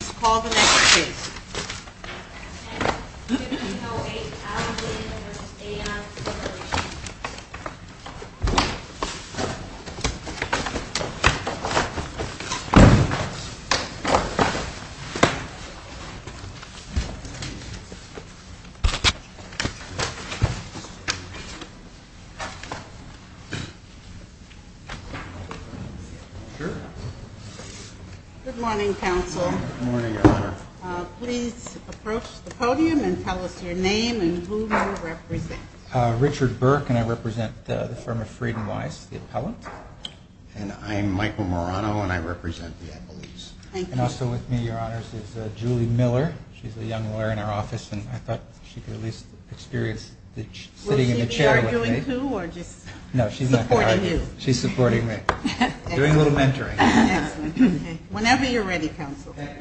Please call the next case. S. 1508 Allen v. AON Corporation Good morning, counsel. Good morning, Your Honor. Please approach the podium and tell us your name and who you represent. Richard Burke, and I represent the firm of Freed & Wise, the appellant. And I'm Michael Morano, and I represent the Appellees. Thank you. And also with me, Your Honor, is Julie Miller. She's a young lawyer in our office, and I thought she could at least experience sitting in the chair with me. Will she be arguing, too, or just support you? No, she's not going to argue. She's supporting me. Doing a little mentoring. Excellent. Whenever you're ready, counsel. Thank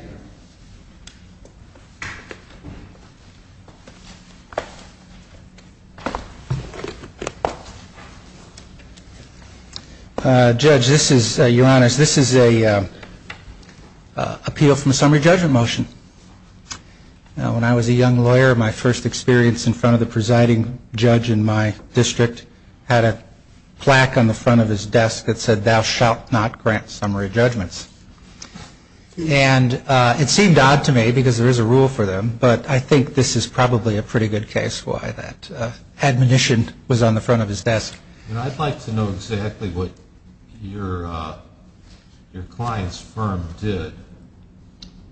you. Judge, this is, Your Honor, this is an appeal from a summary judgment motion. When I was a young lawyer, my first experience in front of the presiding judge in my district had a plaque on the front of his desk that said, Thou shalt not grant summary judgments. And it seemed odd to me because there is a rule for them, but I think this is probably a pretty good case why that admonition was on the front of his desk. I'd like to know exactly what your client's firm did.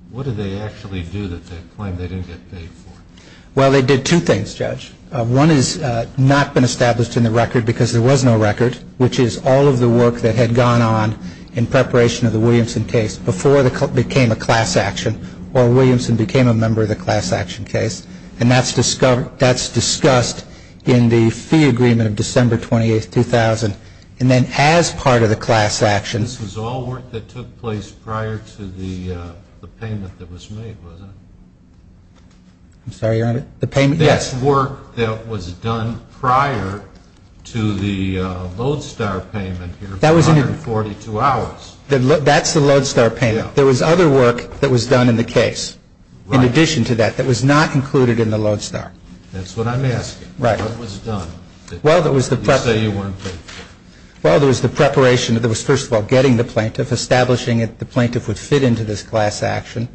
What did they actually do that they claimed they didn't get paid for? Well, they did two things, Judge. One has not been established in the record because there was no record, which is all of the work that had gone on in preparation of the Williamson case before it became a class action or Williamson became a member of the class action case. And that's discussed in the fee agreement of December 28, 2000. And then as part of the class action. This was all work that took place prior to the payment that was made, wasn't it? I'm sorry, Your Honor? The payment, yes. That's work that was done prior to the Lodestar payment here for 142 hours. That's the Lodestar payment. There was other work that was done in the case in addition to that that was not included in the Lodestar. That's what I'm asking. Right. What was done? You say you weren't paid for. Well, there was the preparation. There was, first of all, getting the plaintiff, establishing that the plaintiff would fit into this class action.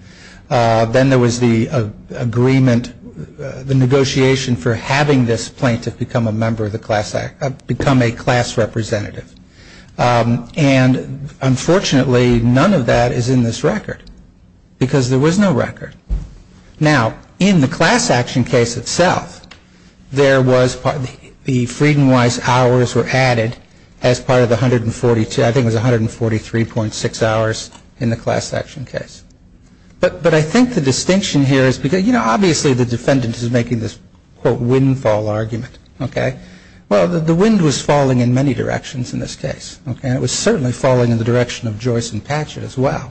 Then there was the agreement, the negotiation for having this plaintiff become a member of the class, become a class representative. And unfortunately, none of that is in this record because there was no record. Now, in the class action case itself, there was, the Freedom Wise hours were added as part of the 142, I think it was 143.6 hours in the class action case. But I think the distinction here is because, you know, obviously the defendant is making this, quote, windfall argument, okay? Well, the wind was falling in many directions in this case, okay? And it was certainly falling in the direction of Joyce and Patchett as well.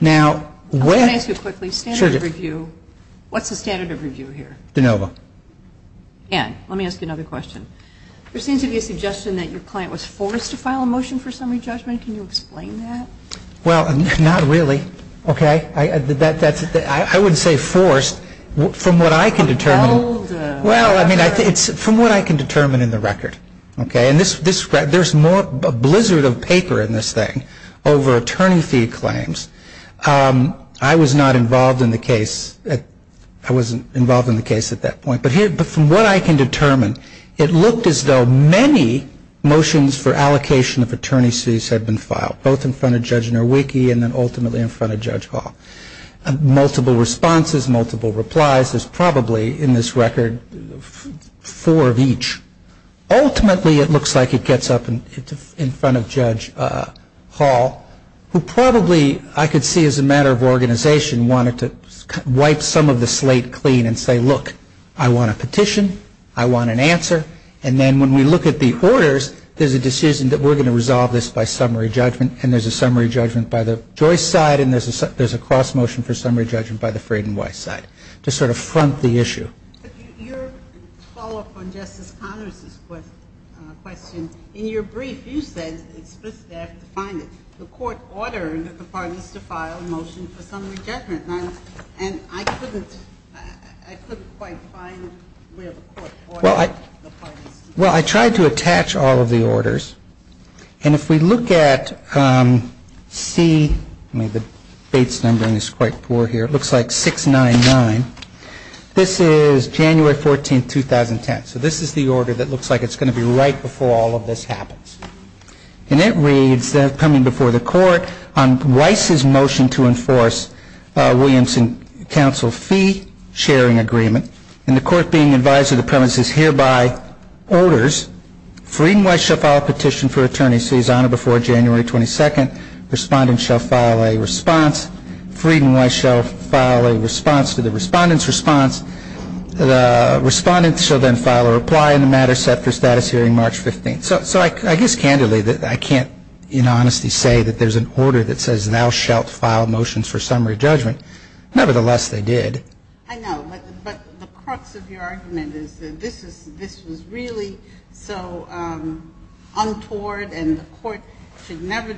Now, when ---- Let me ask you quickly, standard of review, what's the standard of review here? De Novo. Ann, let me ask you another question. There seems to be a suggestion that your client was forced to file a motion for summary judgment. Can you explain that? Well, not really, okay? I wouldn't say forced. From what I can determine ---- Well, I mean, it's from what I can determine in the record, okay? And there's more, a blizzard of paper in this thing over attorney fee claims. I was not involved in the case. I wasn't involved in the case at that point. But from what I can determine, it looked as though many motions for allocation of attorney's fees had been filed, both in front of Judge Nowicki and then ultimately in front of Judge Hall. Multiple responses, multiple replies. There's probably, in this record, four of each. Ultimately, it looks like it gets up in front of Judge Hall, who probably, I could see as a matter of organization, wanted to wipe some of the slate clean and say, look, I want a petition. I want an answer. And then when we look at the orders, there's a decision that we're going to resolve this by summary judgment, and there's a summary judgment by the Joyce side, and there's a cross motion for summary judgment by the Fraden-Weiss side to sort of front the issue. Your follow-up on Justice Connors' question, in your brief, you said explicitly, I have to find it, the court ordered the parties to file a motion for summary judgment. And I couldn't quite find where the court ordered the parties to do that. Well, I tried to attach all of the orders. And if we look at C, I mean, the Bates numbering is quite poor here. It looks like 699. This is January 14th, 2010. So this is the order that looks like it's going to be right before all of this happens. And it reads, coming before the court, on Weiss's motion to enforce Williamson Council fee sharing agreement, and the court being advised of the premises hereby orders, Fraden-Weiss shall file a petition for attorney's fees on or before January 22nd. Respondents shall file a response. Fraden-Weiss shall file a response to the respondent's response. The respondent shall then file a reply in the matter set for status hearing March 15th. So I guess, candidly, I can't, in honesty, say that there's an order that says thou shalt file motions for summary judgment. Nevertheless, they did. I know, but the crux of your argument is that this was really so untoward, and the court should never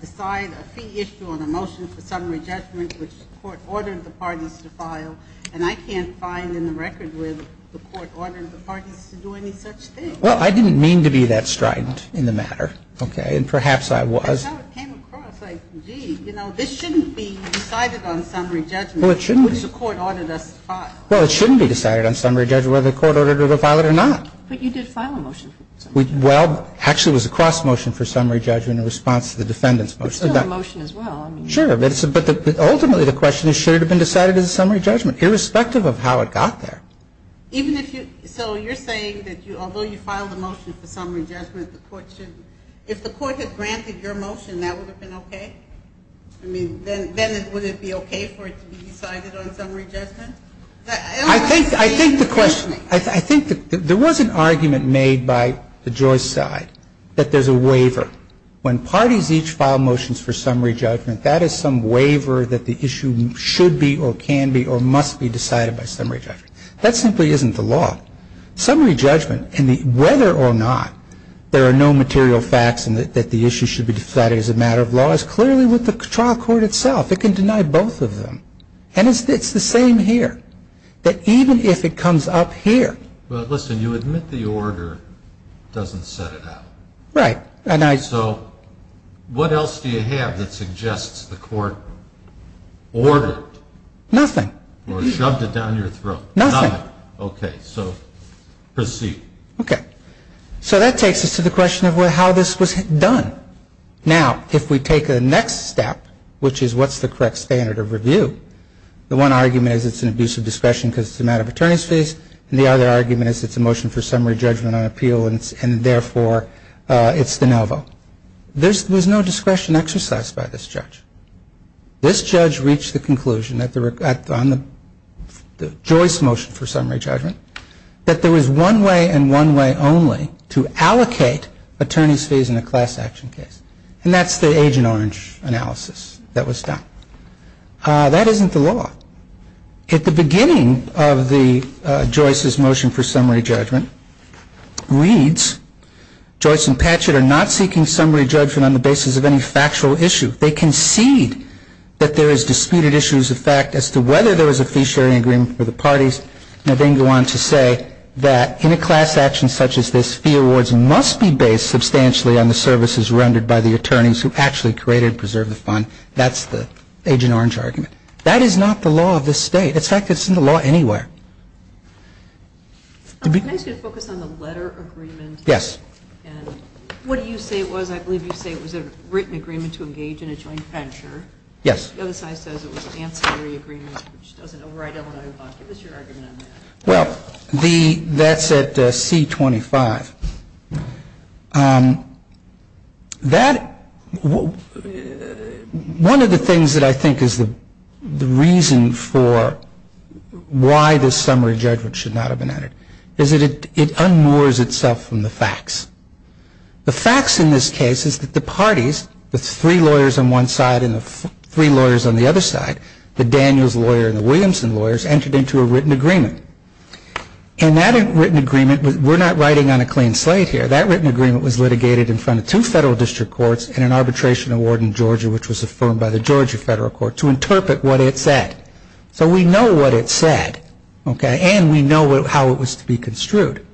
decide a fee issue on a motion for summary judgment, which the court ordered the parties to file. And I can't find in the record where the court ordered the parties to do any such thing. Well, I didn't mean to be that strident in the matter, okay? And perhaps I was. That's how it came across. Like, gee, you know, this shouldn't be decided on summary judgment. Well, it shouldn't. Which the court ordered us to file. Well, it shouldn't be decided on summary judgment whether the court ordered it or filed it or not. But you did file a motion for summary judgment. Well, actually, it was a cross motion for summary judgment in response to the defendant's motion. It's still a motion as well. Sure, but ultimately the question is should it have been decided as a summary judgment, irrespective of how it got there. Even if you so you're saying that although you filed a motion for summary judgment, the court shouldn't. If the court had granted your motion, that would have been okay? I mean, then would it be okay for it to be decided on summary judgment? I think the question, I think there was an argument made by the Joyce side that there's a waiver. When parties each file motions for summary judgment, that is some waiver that the issue should be or can be or must be decided by summary judgment. That simply isn't the law. Summary judgment and whether or not there are no material facts and that the issue should be decided as a matter of law is clearly with the trial court itself. It can deny both of them. And it's the same here, that even if it comes up here. Well, listen, you admit the order doesn't set it out. Right. So what else do you have that suggests the court ordered it? Nothing. Or shoved it down your throat. Nothing. Okay. So proceed. Okay. So that takes us to the question of how this was done. Now, if we take the next step, which is what's the correct standard of review, the one argument is it's an abuse of discretion because it's a matter of attorney's fees, and the other argument is it's a motion for summary judgment on appeal and, therefore, it's de novo. There's no discretion exercised by this judge. This judge reached the conclusion on the Joyce motion for summary judgment that there was one way and one way only to allocate attorney's fees in a class action case, and that's the Agent Orange analysis that was done. That isn't the law. At the beginning of the Joyce's motion for summary judgment reads, Joyce and Patchett are not seeking summary judgment on the basis of any factual issue. They concede that there is disputed issues of fact as to whether there was a fee-sharing agreement for the parties, and then go on to say that in a class action such as this, fee awards must be based substantially on the services rendered by the attorneys who actually created and preserved the fund. That's the Agent Orange argument. That is not the law of this State. In fact, it's in the law anywhere. Can I ask you to focus on the letter agreement? Yes. What do you say it was? I believe you say it was a written agreement to engage in a joint venture. Yes. The other side says it was an ancillary agreement, which doesn't override Illinois law. Give us your argument on that. Well, that's at C-25. That one of the things that I think is the reason for why this summary judgment should not have been entered is that it unmoors itself from the facts. The facts in this case is that the parties, the three lawyers on one side and the three lawyers on the other side, the Daniels lawyer and the Williamson lawyers, entered into a written agreement. And that written agreement, we're not writing on a clean slate here, that written agreement was litigated in front of two Federal District Courts and an arbitration award in Georgia, which was affirmed by the Georgia Federal Court to interpret what it said. So we know what it said. And we know how it was to be construed.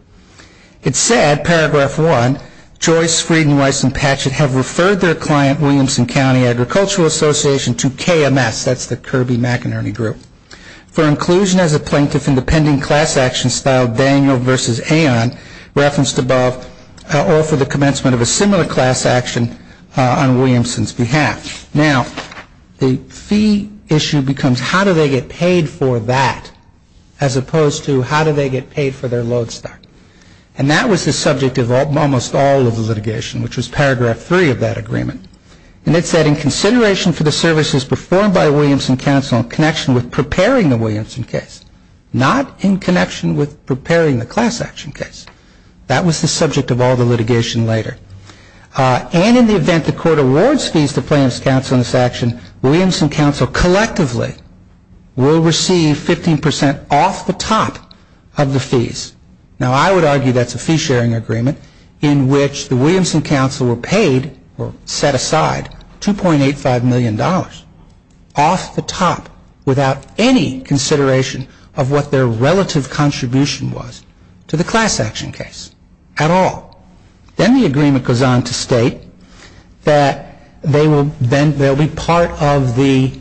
It said, paragraph one, Joyce, Frieden, Weiss, and Patchett have referred their client, Williamson County Agricultural Association, to KMS. That's the Kirby McInerney Group. For inclusion as a plaintiff in the pending class action style, Daniel versus Aon, referenced above, offer the commencement of a similar class action on Williamson's behalf. Now, the fee issue becomes how do they get paid for that, as opposed to how do they get paid for their load stock. And that was the subject of almost all of the litigation, which was paragraph three of that agreement. And it said, in consideration for the services performed by Williamson Council in connection with preparing the Williamson case, not in connection with preparing the class action case. That was the subject of all the litigation later. And in the event the court awards fees to plaintiffs' counsel in this action, Williamson Council collectively will receive 15% off the top of the fees. Now, I would argue that's a fee-sharing agreement in which the Williamson Council were paid, or set aside, $2.85 million off the top, without any consideration of what their relative contribution was to the class action case at all. Then the agreement goes on to state that they will be part of the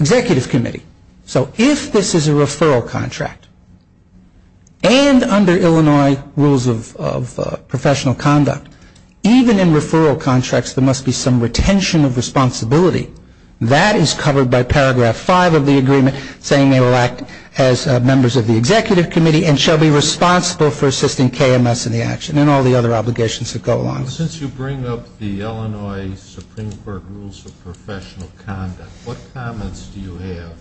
executive committee. So if this is a referral contract, and under Illinois rules of professional conduct, even in referral contracts there must be some retention of responsibility. That is covered by paragraph five of the agreement, saying they will act as members of the executive committee and shall be responsible for assisting KMS in the action. And then all the other obligations that go along. Since you bring up the Illinois Supreme Court rules of professional conduct, what comments do you have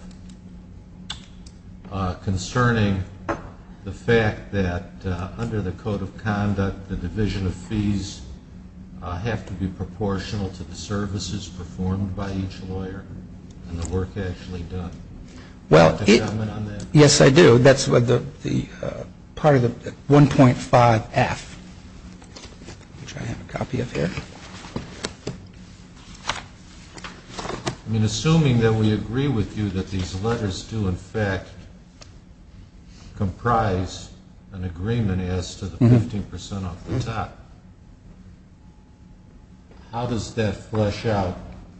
concerning the fact that under the code of conduct, the division of fees have to be proportional to the services performed by each lawyer and the work actually done? Well, yes I do. That's part of the 1.5F, which I have a copy of here. Assuming that we agree with you that these letters do, in fact, comprise an agreement as to the 15% off the top, how does that flesh out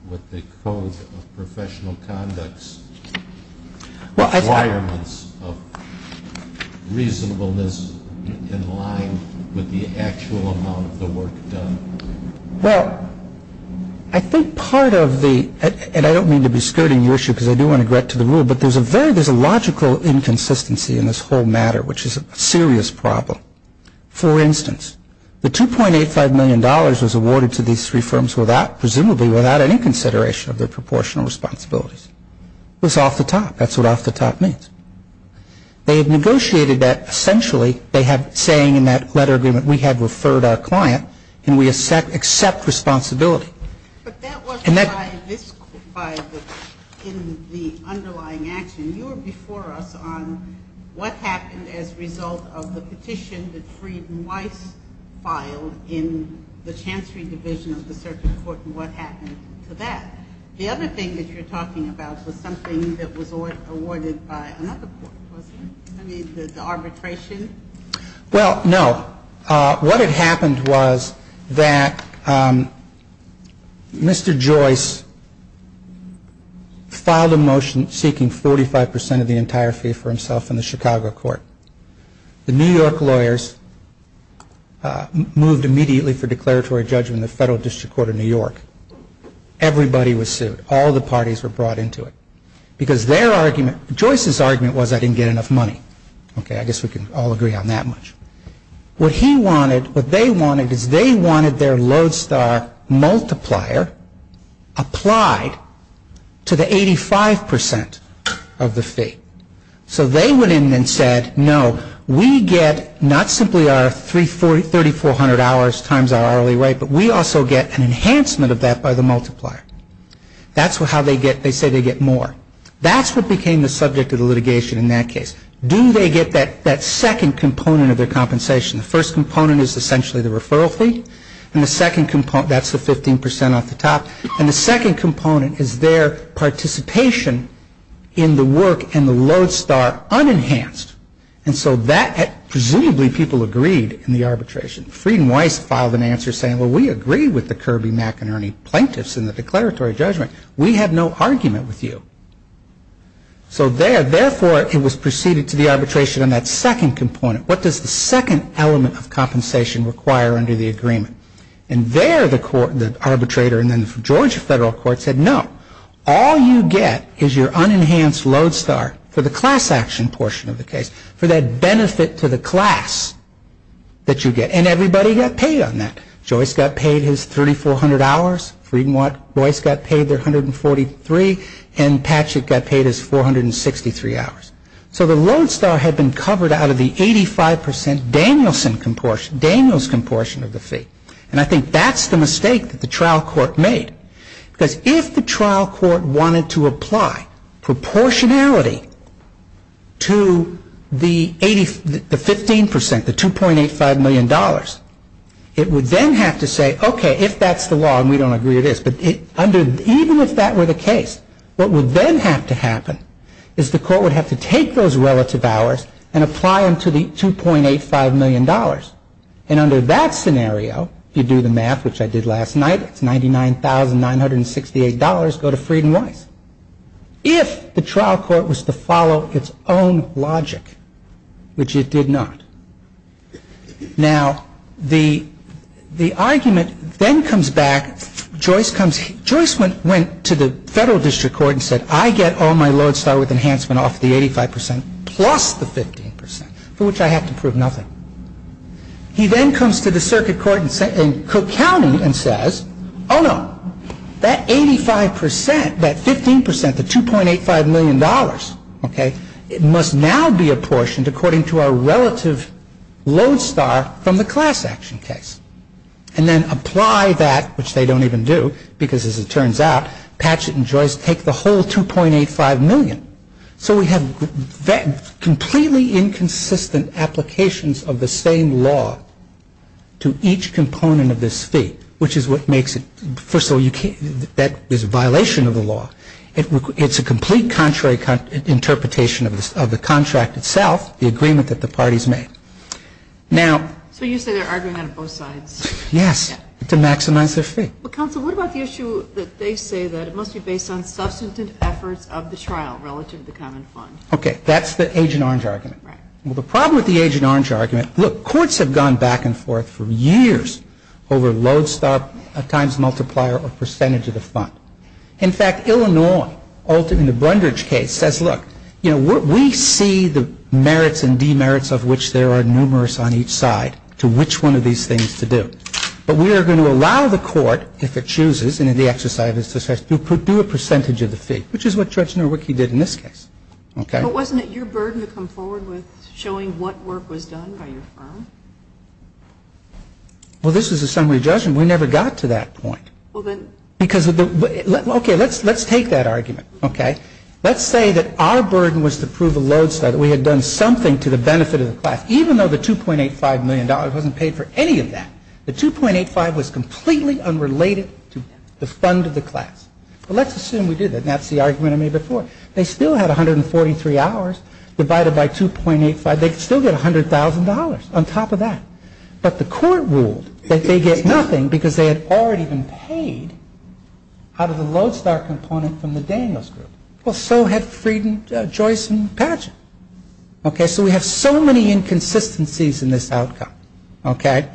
what the code of professional conducts requirements of reasonableness in line with the actual amount of the work done? Well, I think part of the, and I don't mean to be skirting your issue, because I do want to get to the rule, but there is a logical inconsistency in this whole matter, which is a serious problem. For instance, the $2.85 million was awarded to these three firms presumably without any consideration of their proportional responsibilities. That was off the top. That's what off the top means. They have negotiated that essentially. They have saying in that letter agreement, we have referred our client and we accept responsibility. But that wasn't in the underlying action. You were before us on what happened as a result of the petition that Friedman Weiss filed in the Chancery Division of the Circuit Court and what happened to that. The other thing that you're talking about was something that was awarded by another court, wasn't it? I mean, the arbitration? Well, no. What had happened was that Mr. Joyce filed a motion seeking 45% of the entire fee for himself in the Chicago court. The New York lawyers moved immediately for declaratory judgment in the Federal District Court of New York. Everybody was sued. All the parties were brought into it because their argument, Joyce's argument was I didn't get enough money. I guess we can all agree on that much. What he wanted, what they wanted, is they wanted their Lodestar multiplier applied to the 85% of the fee. So they went in and said, no, we get not simply our 3,400 hours times our hourly rate, but we also get an enhancement of that by the multiplier. That's how they get, they say they get more. That's what became the subject of the litigation in that case. Do they get that second component of their compensation? The first component is essentially the referral fee. And the second component, that's the 15% off the top. And the second component is their participation in the work and the Lodestar unenhanced. And so that presumably people agreed in the arbitration. Frieden-Weiss filed an answer saying, well, we agree with the Kirby-McInerney plaintiffs in the declaratory judgment. We have no argument with you. So therefore, it was proceeded to the arbitration on that second component. What does the second element of compensation require under the agreement? And there the arbitrator and then the Georgia Federal Court said, no. All you get is your unenhanced Lodestar for the class action portion of the case, for that benefit to the class that you get. And everybody got paid on that. Joyce got paid his $3,400. Frieden-Weiss got paid their $143. And Patchett got paid his $463. So the Lodestar had been covered out of the 85% Danielson comportion, Daniels comportion of the fee. And I think that's the mistake that the trial court made. Because if the trial court wanted to apply proportionality to the 15%, the $2.85 million, it would then have to say, okay, if that's the law, and we don't agree it is, but even if that were the case, what would then have to happen is the court would have to take those relative hours and apply them to the $2.85 million. And under that scenario, if you do the math, which I did last night, it's $99,968 go to Frieden-Weiss. If the trial court was to follow its own logic, which it did not. Now, the argument then comes back. Joyce went to the Federal District Court and said, I get all my Lodestar with enhancement off the 85% plus the 15%, for which I have to prove nothing. He then comes to the circuit court in Cook County and says, oh no, that 85%, that 15%, the $2.85 million, it must now be apportioned according to our relative Lodestar from the class action case. And then apply that, which they don't even do, because as it turns out, Patchett and Joyce take the whole $2.85 million. So we have completely inconsistent applications of the same law to each component of this fee, which is what makes it. First of all, that is a violation of the law. It's a complete contrary interpretation of the contract itself, the agreement that the parties made. Now. So you say they're arguing on both sides. Yes, to maximize their fee. Well, counsel, what about the issue that they say that it must be based on substantive efforts of the trial relative to the common fund? Okay. That's the Agent Orange argument. Right. Well, the problem with the Agent Orange argument, look, courts have gone back and forth for years over Lodestar times multiplier or percentage of the fund. In fact, Illinois, in the Brundage case, says, look, you know, we see the merits and demerits of which there are numerous on each side to which one of these things to do. But we are going to allow the court, if it chooses, and in the exercise of its discretion, to do a percentage of the fee, which is what Judge Norwicky did in this case. Okay. But wasn't it your burden to come forward with showing what work was done by your firm? Well, this is a summary judgment. We never got to that point. Well, then. Because of the. Okay. Let's take that argument. Okay. Let's say that our burden was to prove a Lodestar, that we had done something to the benefit of the class, even though the $2.85 million wasn't paid for any of that. The $2.85 was completely unrelated to the fund of the class. But let's assume we did that. And that's the argument I made before. They still had 143 hours divided by $2.85. They could still get $100,000 on top of that. But the court ruled that they get nothing because they had already been paid out of the Lodestar component from the Daniels Group. Well, so had Frieden, Joyce, and Patchen. Okay. So we have so many inconsistencies in this outcome, okay,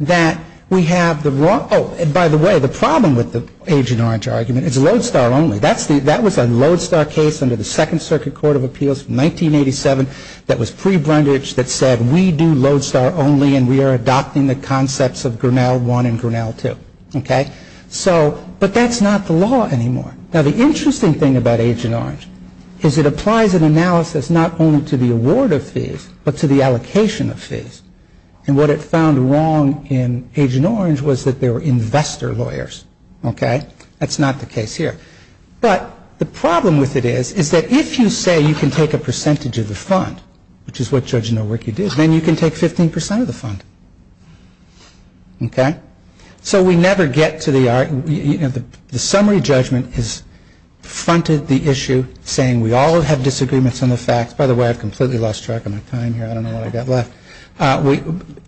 that we have the wrong. Oh, and by the way, the problem with the Agent Orange argument is Lodestar only. That was a Lodestar case under the Second Circuit Court of Appeals in 1987 that was pre-Brundage that said, we do Lodestar only and we are adopting the concepts of Grinnell I and Grinnell II. Okay. So. But that's not the law anymore. Now, the interesting thing about Agent Orange is it applies an analysis not only to the award of fees, but to the allocation of fees. And what it found wrong in Agent Orange was that they were investor lawyers. Okay. That's not the case here. But the problem with it is, is that if you say you can take a percentage of the fund, which is what Judge Nowicki did, then you can take 15% of the fund. Okay. So we never get to the, you know, the summary judgment has fronted the issue, saying we all have disagreements on the facts. By the way, I've completely lost track of my time here. I don't know what I've got left.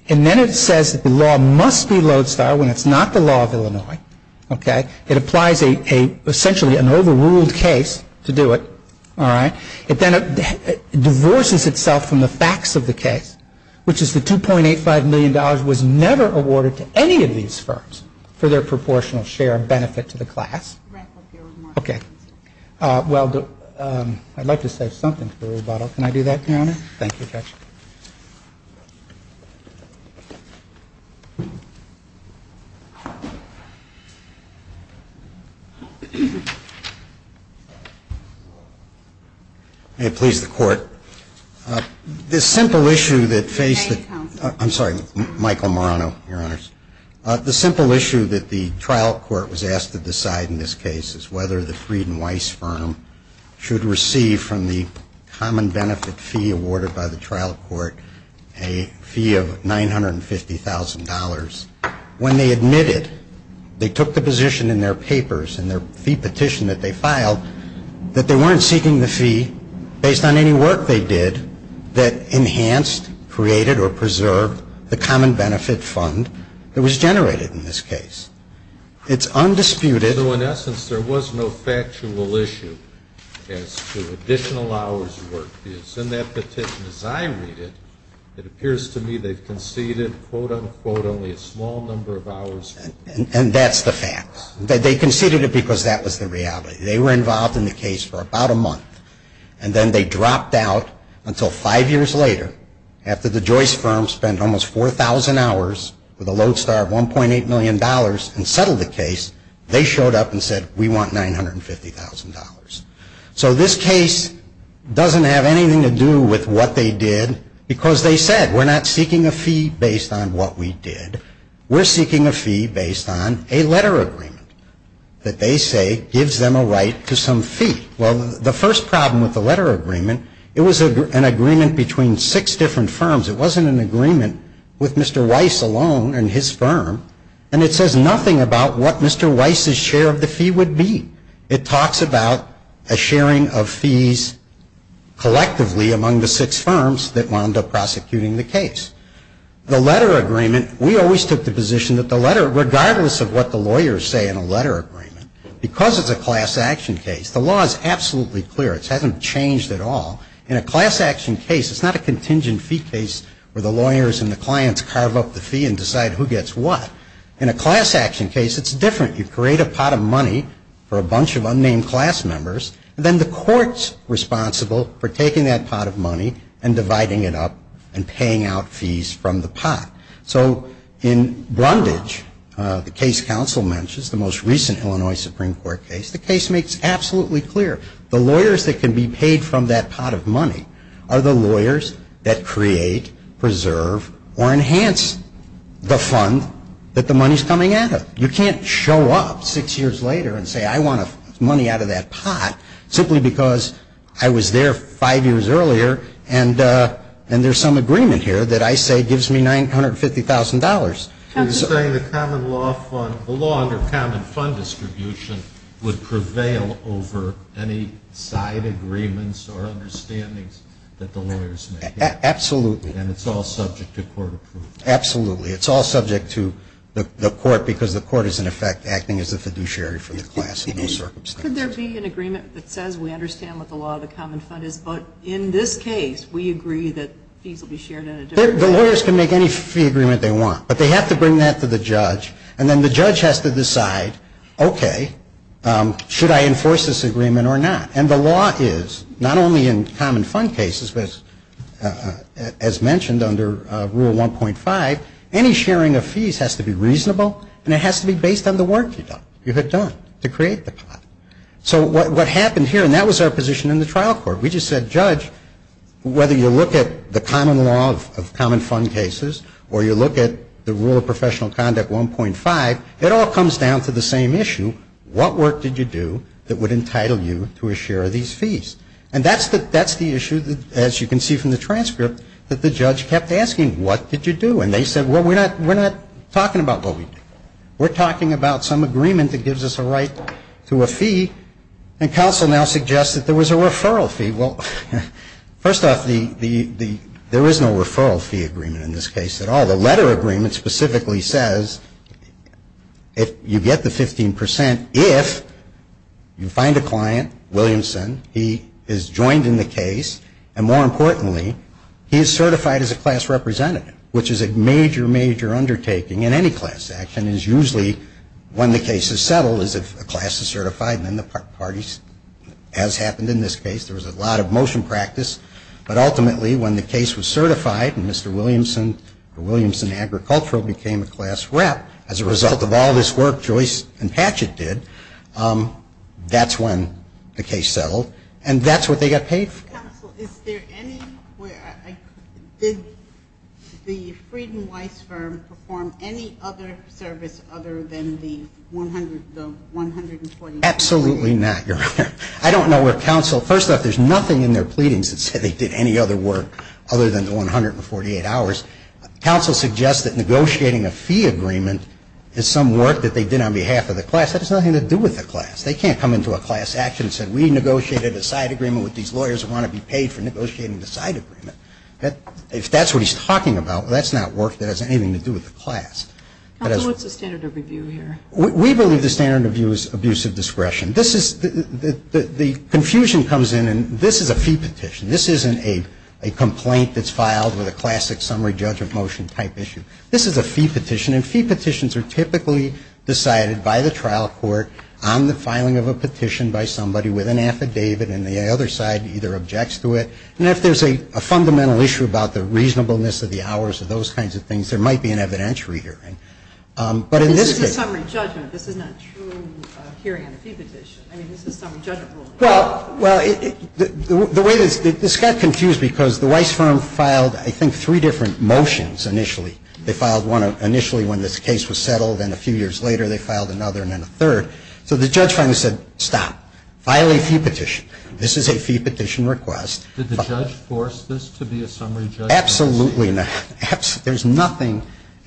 And then it says that the law must be Lodestar when it's not the law of Illinois. Okay. It applies essentially an overruled case to do it. All right. It then divorces itself from the facts of the case, which is the $2.85 million was never awarded to any of these firms for their proportional share and benefit to the class. Okay. Well, I'd like to say something to the rebuttal. Can I do that, Your Honor? Thank you, Judge. May it please the Court. The simple issue that faced the ---- May I speak, counsel? I'm sorry. Michael Marano, Your Honors. The simple issue that the trial court was asked to decide in this case is whether the Fried and Weiss firm should receive from the common benefit fee awarded by the trial court a fee of $950,000. When they admitted, they took the position in their papers and their fee petition that they filed, that they weren't seeking the fee based on any work they did that enhanced, created, or preserved the common benefit fund that was generated in this case. It's undisputed. So in essence, there was no factual issue as to additional hours of work. It's in that petition. As I read it, it appears to me they've conceded, quote, unquote, only a small number of hours. And that's the fact. They conceded it because that was the reality. They were involved in the case for about a month. And then they dropped out until five years later, after the Joyce firm spent almost 4,000 hours with a load star of $1.8 million and settled the case, they showed up and said, we want $950,000. So this case doesn't have anything to do with what they did because they said, we're not seeking a fee based on what we did. We're seeking a fee based on a letter agreement that they say gives them a right to some fee. Well, the first problem with the letter agreement, it was an agreement between six different firms. It wasn't an agreement with Mr. Weiss alone and his firm. And it says nothing about what Mr. Weiss's share of the fee would be. It talks about a sharing of fees collectively among the six firms that wound up prosecuting the case. The letter agreement, we always took the position that the letter, regardless of what the lawyers say in a letter agreement, because it's a class action case, the law is absolutely clear. It hasn't changed at all. In a class action case, it's not a contingent fee case where the lawyers and the clients carve up the fee and decide who gets what. In a class action case, it's different. You create a pot of money for a bunch of unnamed class members, and then the court's responsible for taking that pot of money and dividing it up and paying out fees from the pot. So in Brundage, the case counsel mentions, the most recent Illinois Supreme Court case, the case makes absolutely clear. The lawyers that can be paid from that pot of money are the lawyers that create, preserve, or enhance the fund that the money's coming out of. You can't show up six years later and say I want money out of that pot simply because I was there five years earlier and there's some agreement here that I say gives me $950,000. You're saying the law under common fund distribution would prevail over any side agreements or understandings that the lawyers make? Absolutely. And it's all subject to court approval? Absolutely. It's all subject to the court because the court is, in effect, acting as a fiduciary for the class in those circumstances. Could there be an agreement that says we understand what the law of the common fund is, but in this case we agree that fees will be shared in a different way? The lawyers can make any fee agreement they want, but they have to bring that to the judge, and then the judge has to decide, okay, should I enforce this agreement or not? And the law is not only in common fund cases, but as mentioned under Rule 1.5, any sharing of fees has to be reasonable and it has to be based on the work you have done to create the pot. So what happened here, and that was our position in the trial court, we just said judge, whether you look at the common law of common fund cases or you look at the rule of professional conduct 1.5, it all comes down to the same issue. What work did you do that would entitle you to a share of these fees? And that's the issue, as you can see from the transcript, that the judge kept asking. What did you do? And they said, well, we're not talking about what we do. We're talking about some agreement that gives us a right to a fee, and counsel now suggests that there was a referral fee. Well, first off, there is no referral fee agreement in this case at all. The letter agreement specifically says if you get the 15 percent, if you find a client, Williamson, he is joined in the case, and more importantly, he is certified as a class representative, which is a major, major undertaking in any class action, is usually when the case is settled, is if a class is certified, and then the parties, as happened in this case, there was a lot of motion practice. But ultimately, when the case was certified and Mr. Williamson, or Williamson Agricultural became a class rep as a result of all this work Joyce and Patchett did, that's when the case settled, and that's what they got paid for. Counsel, is there any, did the Frieden-Weiss firm perform any other service other than the 100, the 120? Absolutely not, Your Honor. I don't know where counsel, first off, there's nothing in their pleadings that said they did any other work other than the 100 or 48 hours. Counsel suggests that negotiating a fee agreement is some work that they did on behalf of the class. That has nothing to do with the class. They can't come into a class action and say, we negotiated a side agreement with these lawyers who want to be paid for negotiating the side agreement. If that's what he's talking about, that's not work that has anything to do with the class. Counsel, what's the standard of review here? We believe the standard of review is abuse of discretion. The confusion comes in, and this is a fee petition. This isn't a complaint that's filed with a classic summary judgment motion type issue. This is a fee petition, and fee petitions are typically decided by the trial court on the filing of a petition by somebody with an affidavit, and the other side either objects to it. And if there's a fundamental issue about the reasonableness of the hours or those kinds of things, there might be an evidentiary hearing. This is a summary judgment. This is not a true hearing on a fee petition. I mean, this is a summary judgment rule. Well, the way this got confused because the Weiss firm filed, I think, three different motions initially. They filed one initially when this case was settled, and a few years later they filed another and then a third. So the judge finally said, stop. File a fee petition. This is a fee petition request. Did the judge force this to be a summary judgment? Absolutely not. There's nothing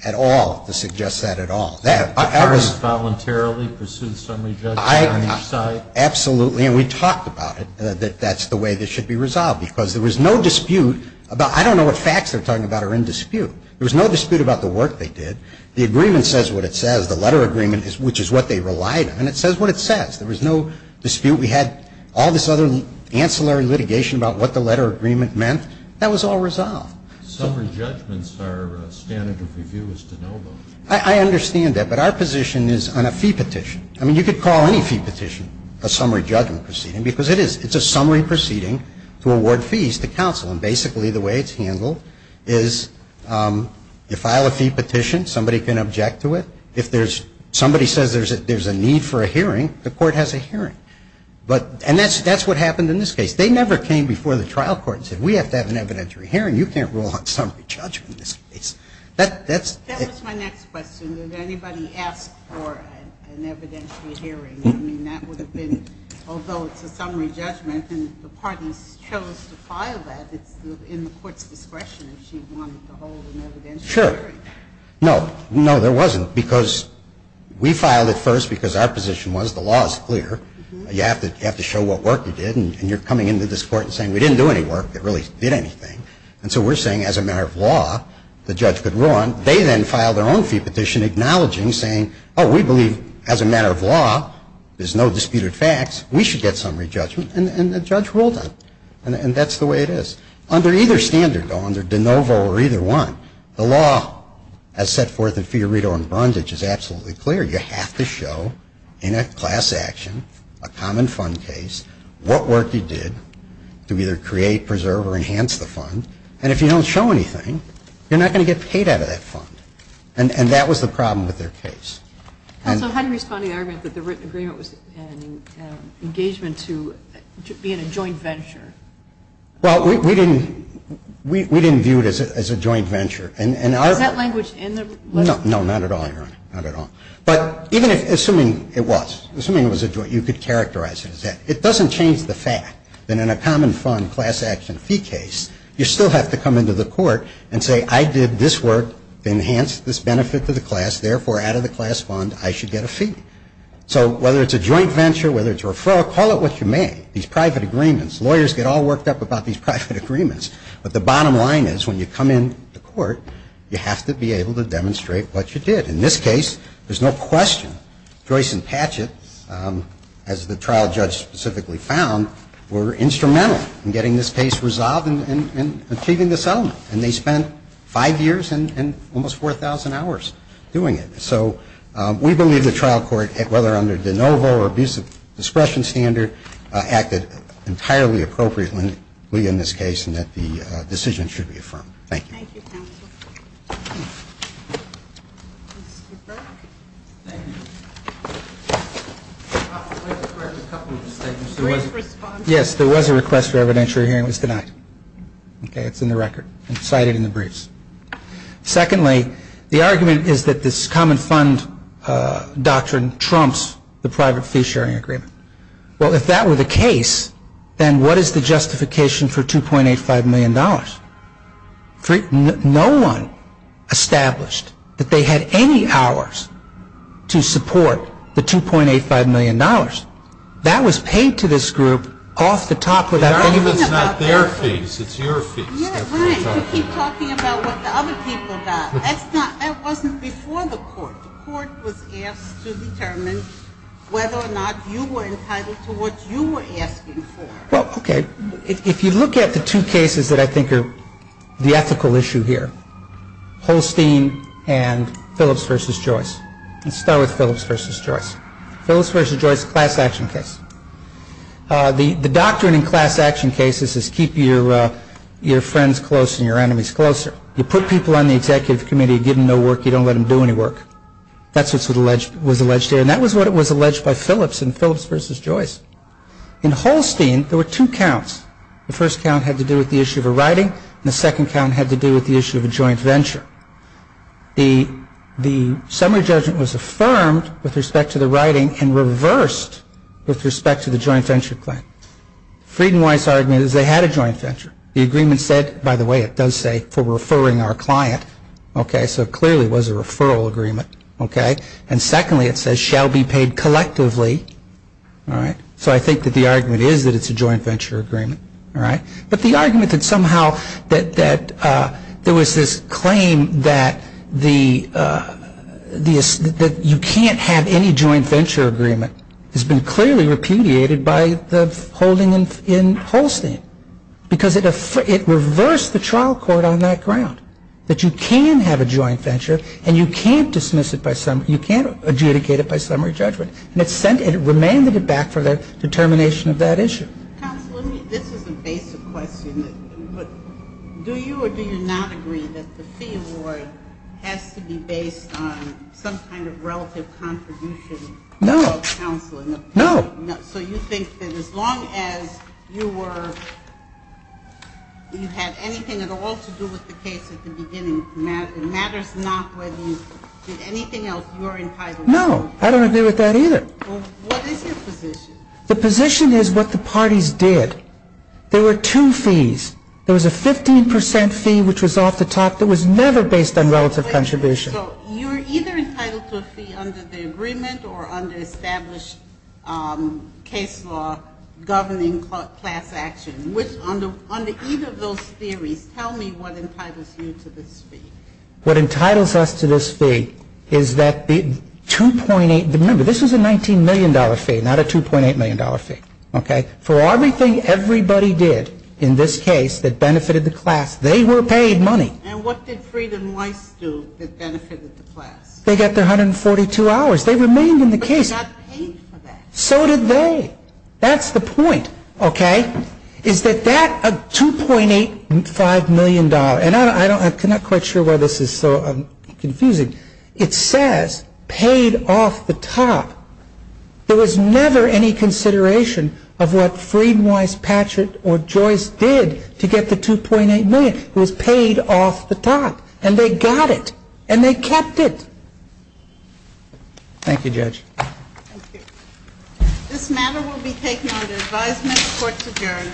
at all to suggest that at all. Did the firm voluntarily pursue the summary judgment on each side? Absolutely, and we talked about it, that that's the way this should be resolved because there was no dispute about I don't know what facts they're talking about are in dispute. There was no dispute about the work they did. The agreement says what it says. The letter agreement, which is what they relied on, it says what it says. There was no dispute. We had all this other ancillary litigation about what the letter agreement meant. That was all resolved. Summary judgments are standard of review as to know them. I understand that, but our position is on a fee petition. I mean, you could call any fee petition a summary judgment proceeding because it is. It's a summary proceeding to award fees to counsel, and basically the way it's handled is you file a fee petition. Somebody can object to it. If somebody says there's a need for a hearing, the court has a hearing. And that's what happened in this case. They never came before the trial court and said we have to have an evidentiary hearing. You can't rule on summary judgment in this case. That was my next question. Did anybody ask for an evidentiary hearing? I mean, that would have been, although it's a summary judgment and the parties chose to file that, it's in the court's discretion if she wanted to hold an evidentiary hearing. Sure. No, no, there wasn't because we filed it first because our position was the law is clear. You have to show what work you did. And you're coming into this court and saying we didn't do any work that really did anything. And so we're saying as a matter of law, the judge could run. They then file their own fee petition acknowledging, saying, oh, we believe as a matter of law, there's no disputed facts, we should get summary judgment, and the judge ruled on it. And that's the way it is. Under either standard, though, under de novo or either one, the law as set forth in Fiorito and Brundage is absolutely clear. You have to show in a class action, a common fund case, what work you did to either create, preserve, or enhance the fund. And if you don't show anything, you're not going to get paid out of that fund. And that was the problem with their case. Counsel, how do you respond to the argument that the written agreement was an engagement to being a joint venture? Well, we didn't view it as a joint venture. Is that language in the letter? No, not at all, Your Honor. Not at all. But even assuming it was, assuming it was a joint, you could characterize it as that. It doesn't change the fact that in a common fund class action fee case, you still have to come into the court and say, I did this work to enhance this benefit to the class. Therefore, out of the class fund, I should get a fee. So whether it's a joint venture, whether it's a referral, call it what you may. These private agreements, lawyers get all worked up about these private agreements. But the bottom line is, when you come in the court, you have to be able to demonstrate what you did. In this case, there's no question, Joyce and Patchett, as the trial judge specifically found, were instrumental in getting this case resolved and achieving the settlement. And they spent five years and almost 4,000 hours doing it. So we believe the trial court, whether under de novo or abuse of discretion standard, acted entirely appropriately in this case and that the decision should be affirmed. Thank you. Thank you, counsel. Thank you. Yes, there was a request for evidentiary hearing. It was denied. It's in the record. It's cited in the briefs. Secondly, the argument is that this common fund doctrine trumps the private fee sharing agreement. Well, if that were the case, then what is the justification for $2.85 million? No one established that they had any hours to support the $2.85 million. That was paid to this group off the top of that. It's not their fees. It's your fees. You're right. You keep talking about what the other people got. That wasn't before the court. The court was asked to determine whether or not you were entitled to what you were asking for. Well, okay. If you look at the two cases that I think are the ethical issue here, Holstein and Phillips v. Joyce. Let's start with Phillips v. Joyce. Phillips v. Joyce is a class action case. The doctrine in class action cases is keep your friends close and your enemies closer. You put people on the executive committee, you give them no work, you don't let them do any work. That's what was alleged there, and that was what was alleged by Phillips in Phillips v. Joyce. In Holstein, there were two counts. The first count had to do with the issue of a writing, and the second count had to do with the issue of a joint venture. The summary judgment was affirmed with respect to the writing and reversed with respect to the joint venture claim. Frieden-Weiss argument is they had a joint venture. The agreement said, by the way, it does say, for referring our client. Okay. So it clearly was a referral agreement. Okay. And secondly, it says shall be paid collectively. All right. So I think that the argument is that it's a joint venture agreement. All right. But the argument that somehow that there was this claim that you can't have any joint venture agreement has been clearly repudiated by the holding in Holstein because it reversed the trial court on that ground, that you can have a joint venture and you can't dismiss it by summary, you can't adjudicate it by summary judgment. And it sent it, it remanded it back for the determination of that issue. Counsel, let me, this is a basic question. Do you or do you not agree that the fee award has to be based on some kind of relative contribution? No. No. No. So you think that as long as you were, you had anything at all to do with the case at the beginning, it matters not whether you did anything else you were entitled to. No. I don't agree with that either. Well, what is your position? The position is what the parties did. There were two fees. There was a 15 percent fee which was off the top that was never based on relative contribution. So you're either entitled to a fee under the agreement or under established case law governing class action. Under either of those theories, tell me what entitles you to this fee. What entitles us to this fee is that the 2.8, remember this was a $19 million fee, not a $2.8 million fee. For everything everybody did in this case that benefited the class, they were paid money. And what did Fried and Weiss do that benefited the class? They got their 142 hours. They remained in the case. But they got paid for that. So did they. That's the point, okay? Is that that $2.85 million, and I'm not quite sure why this is so confusing, it says paid off the top. There was never any consideration of what Fried and Weiss, Patchett, or Joyce did to get the $2.8 million. It was paid off the top. And they got it. And they kept it. Thank you, Judge. Thank you. This matter will be taken under advisement of the court to adjourn.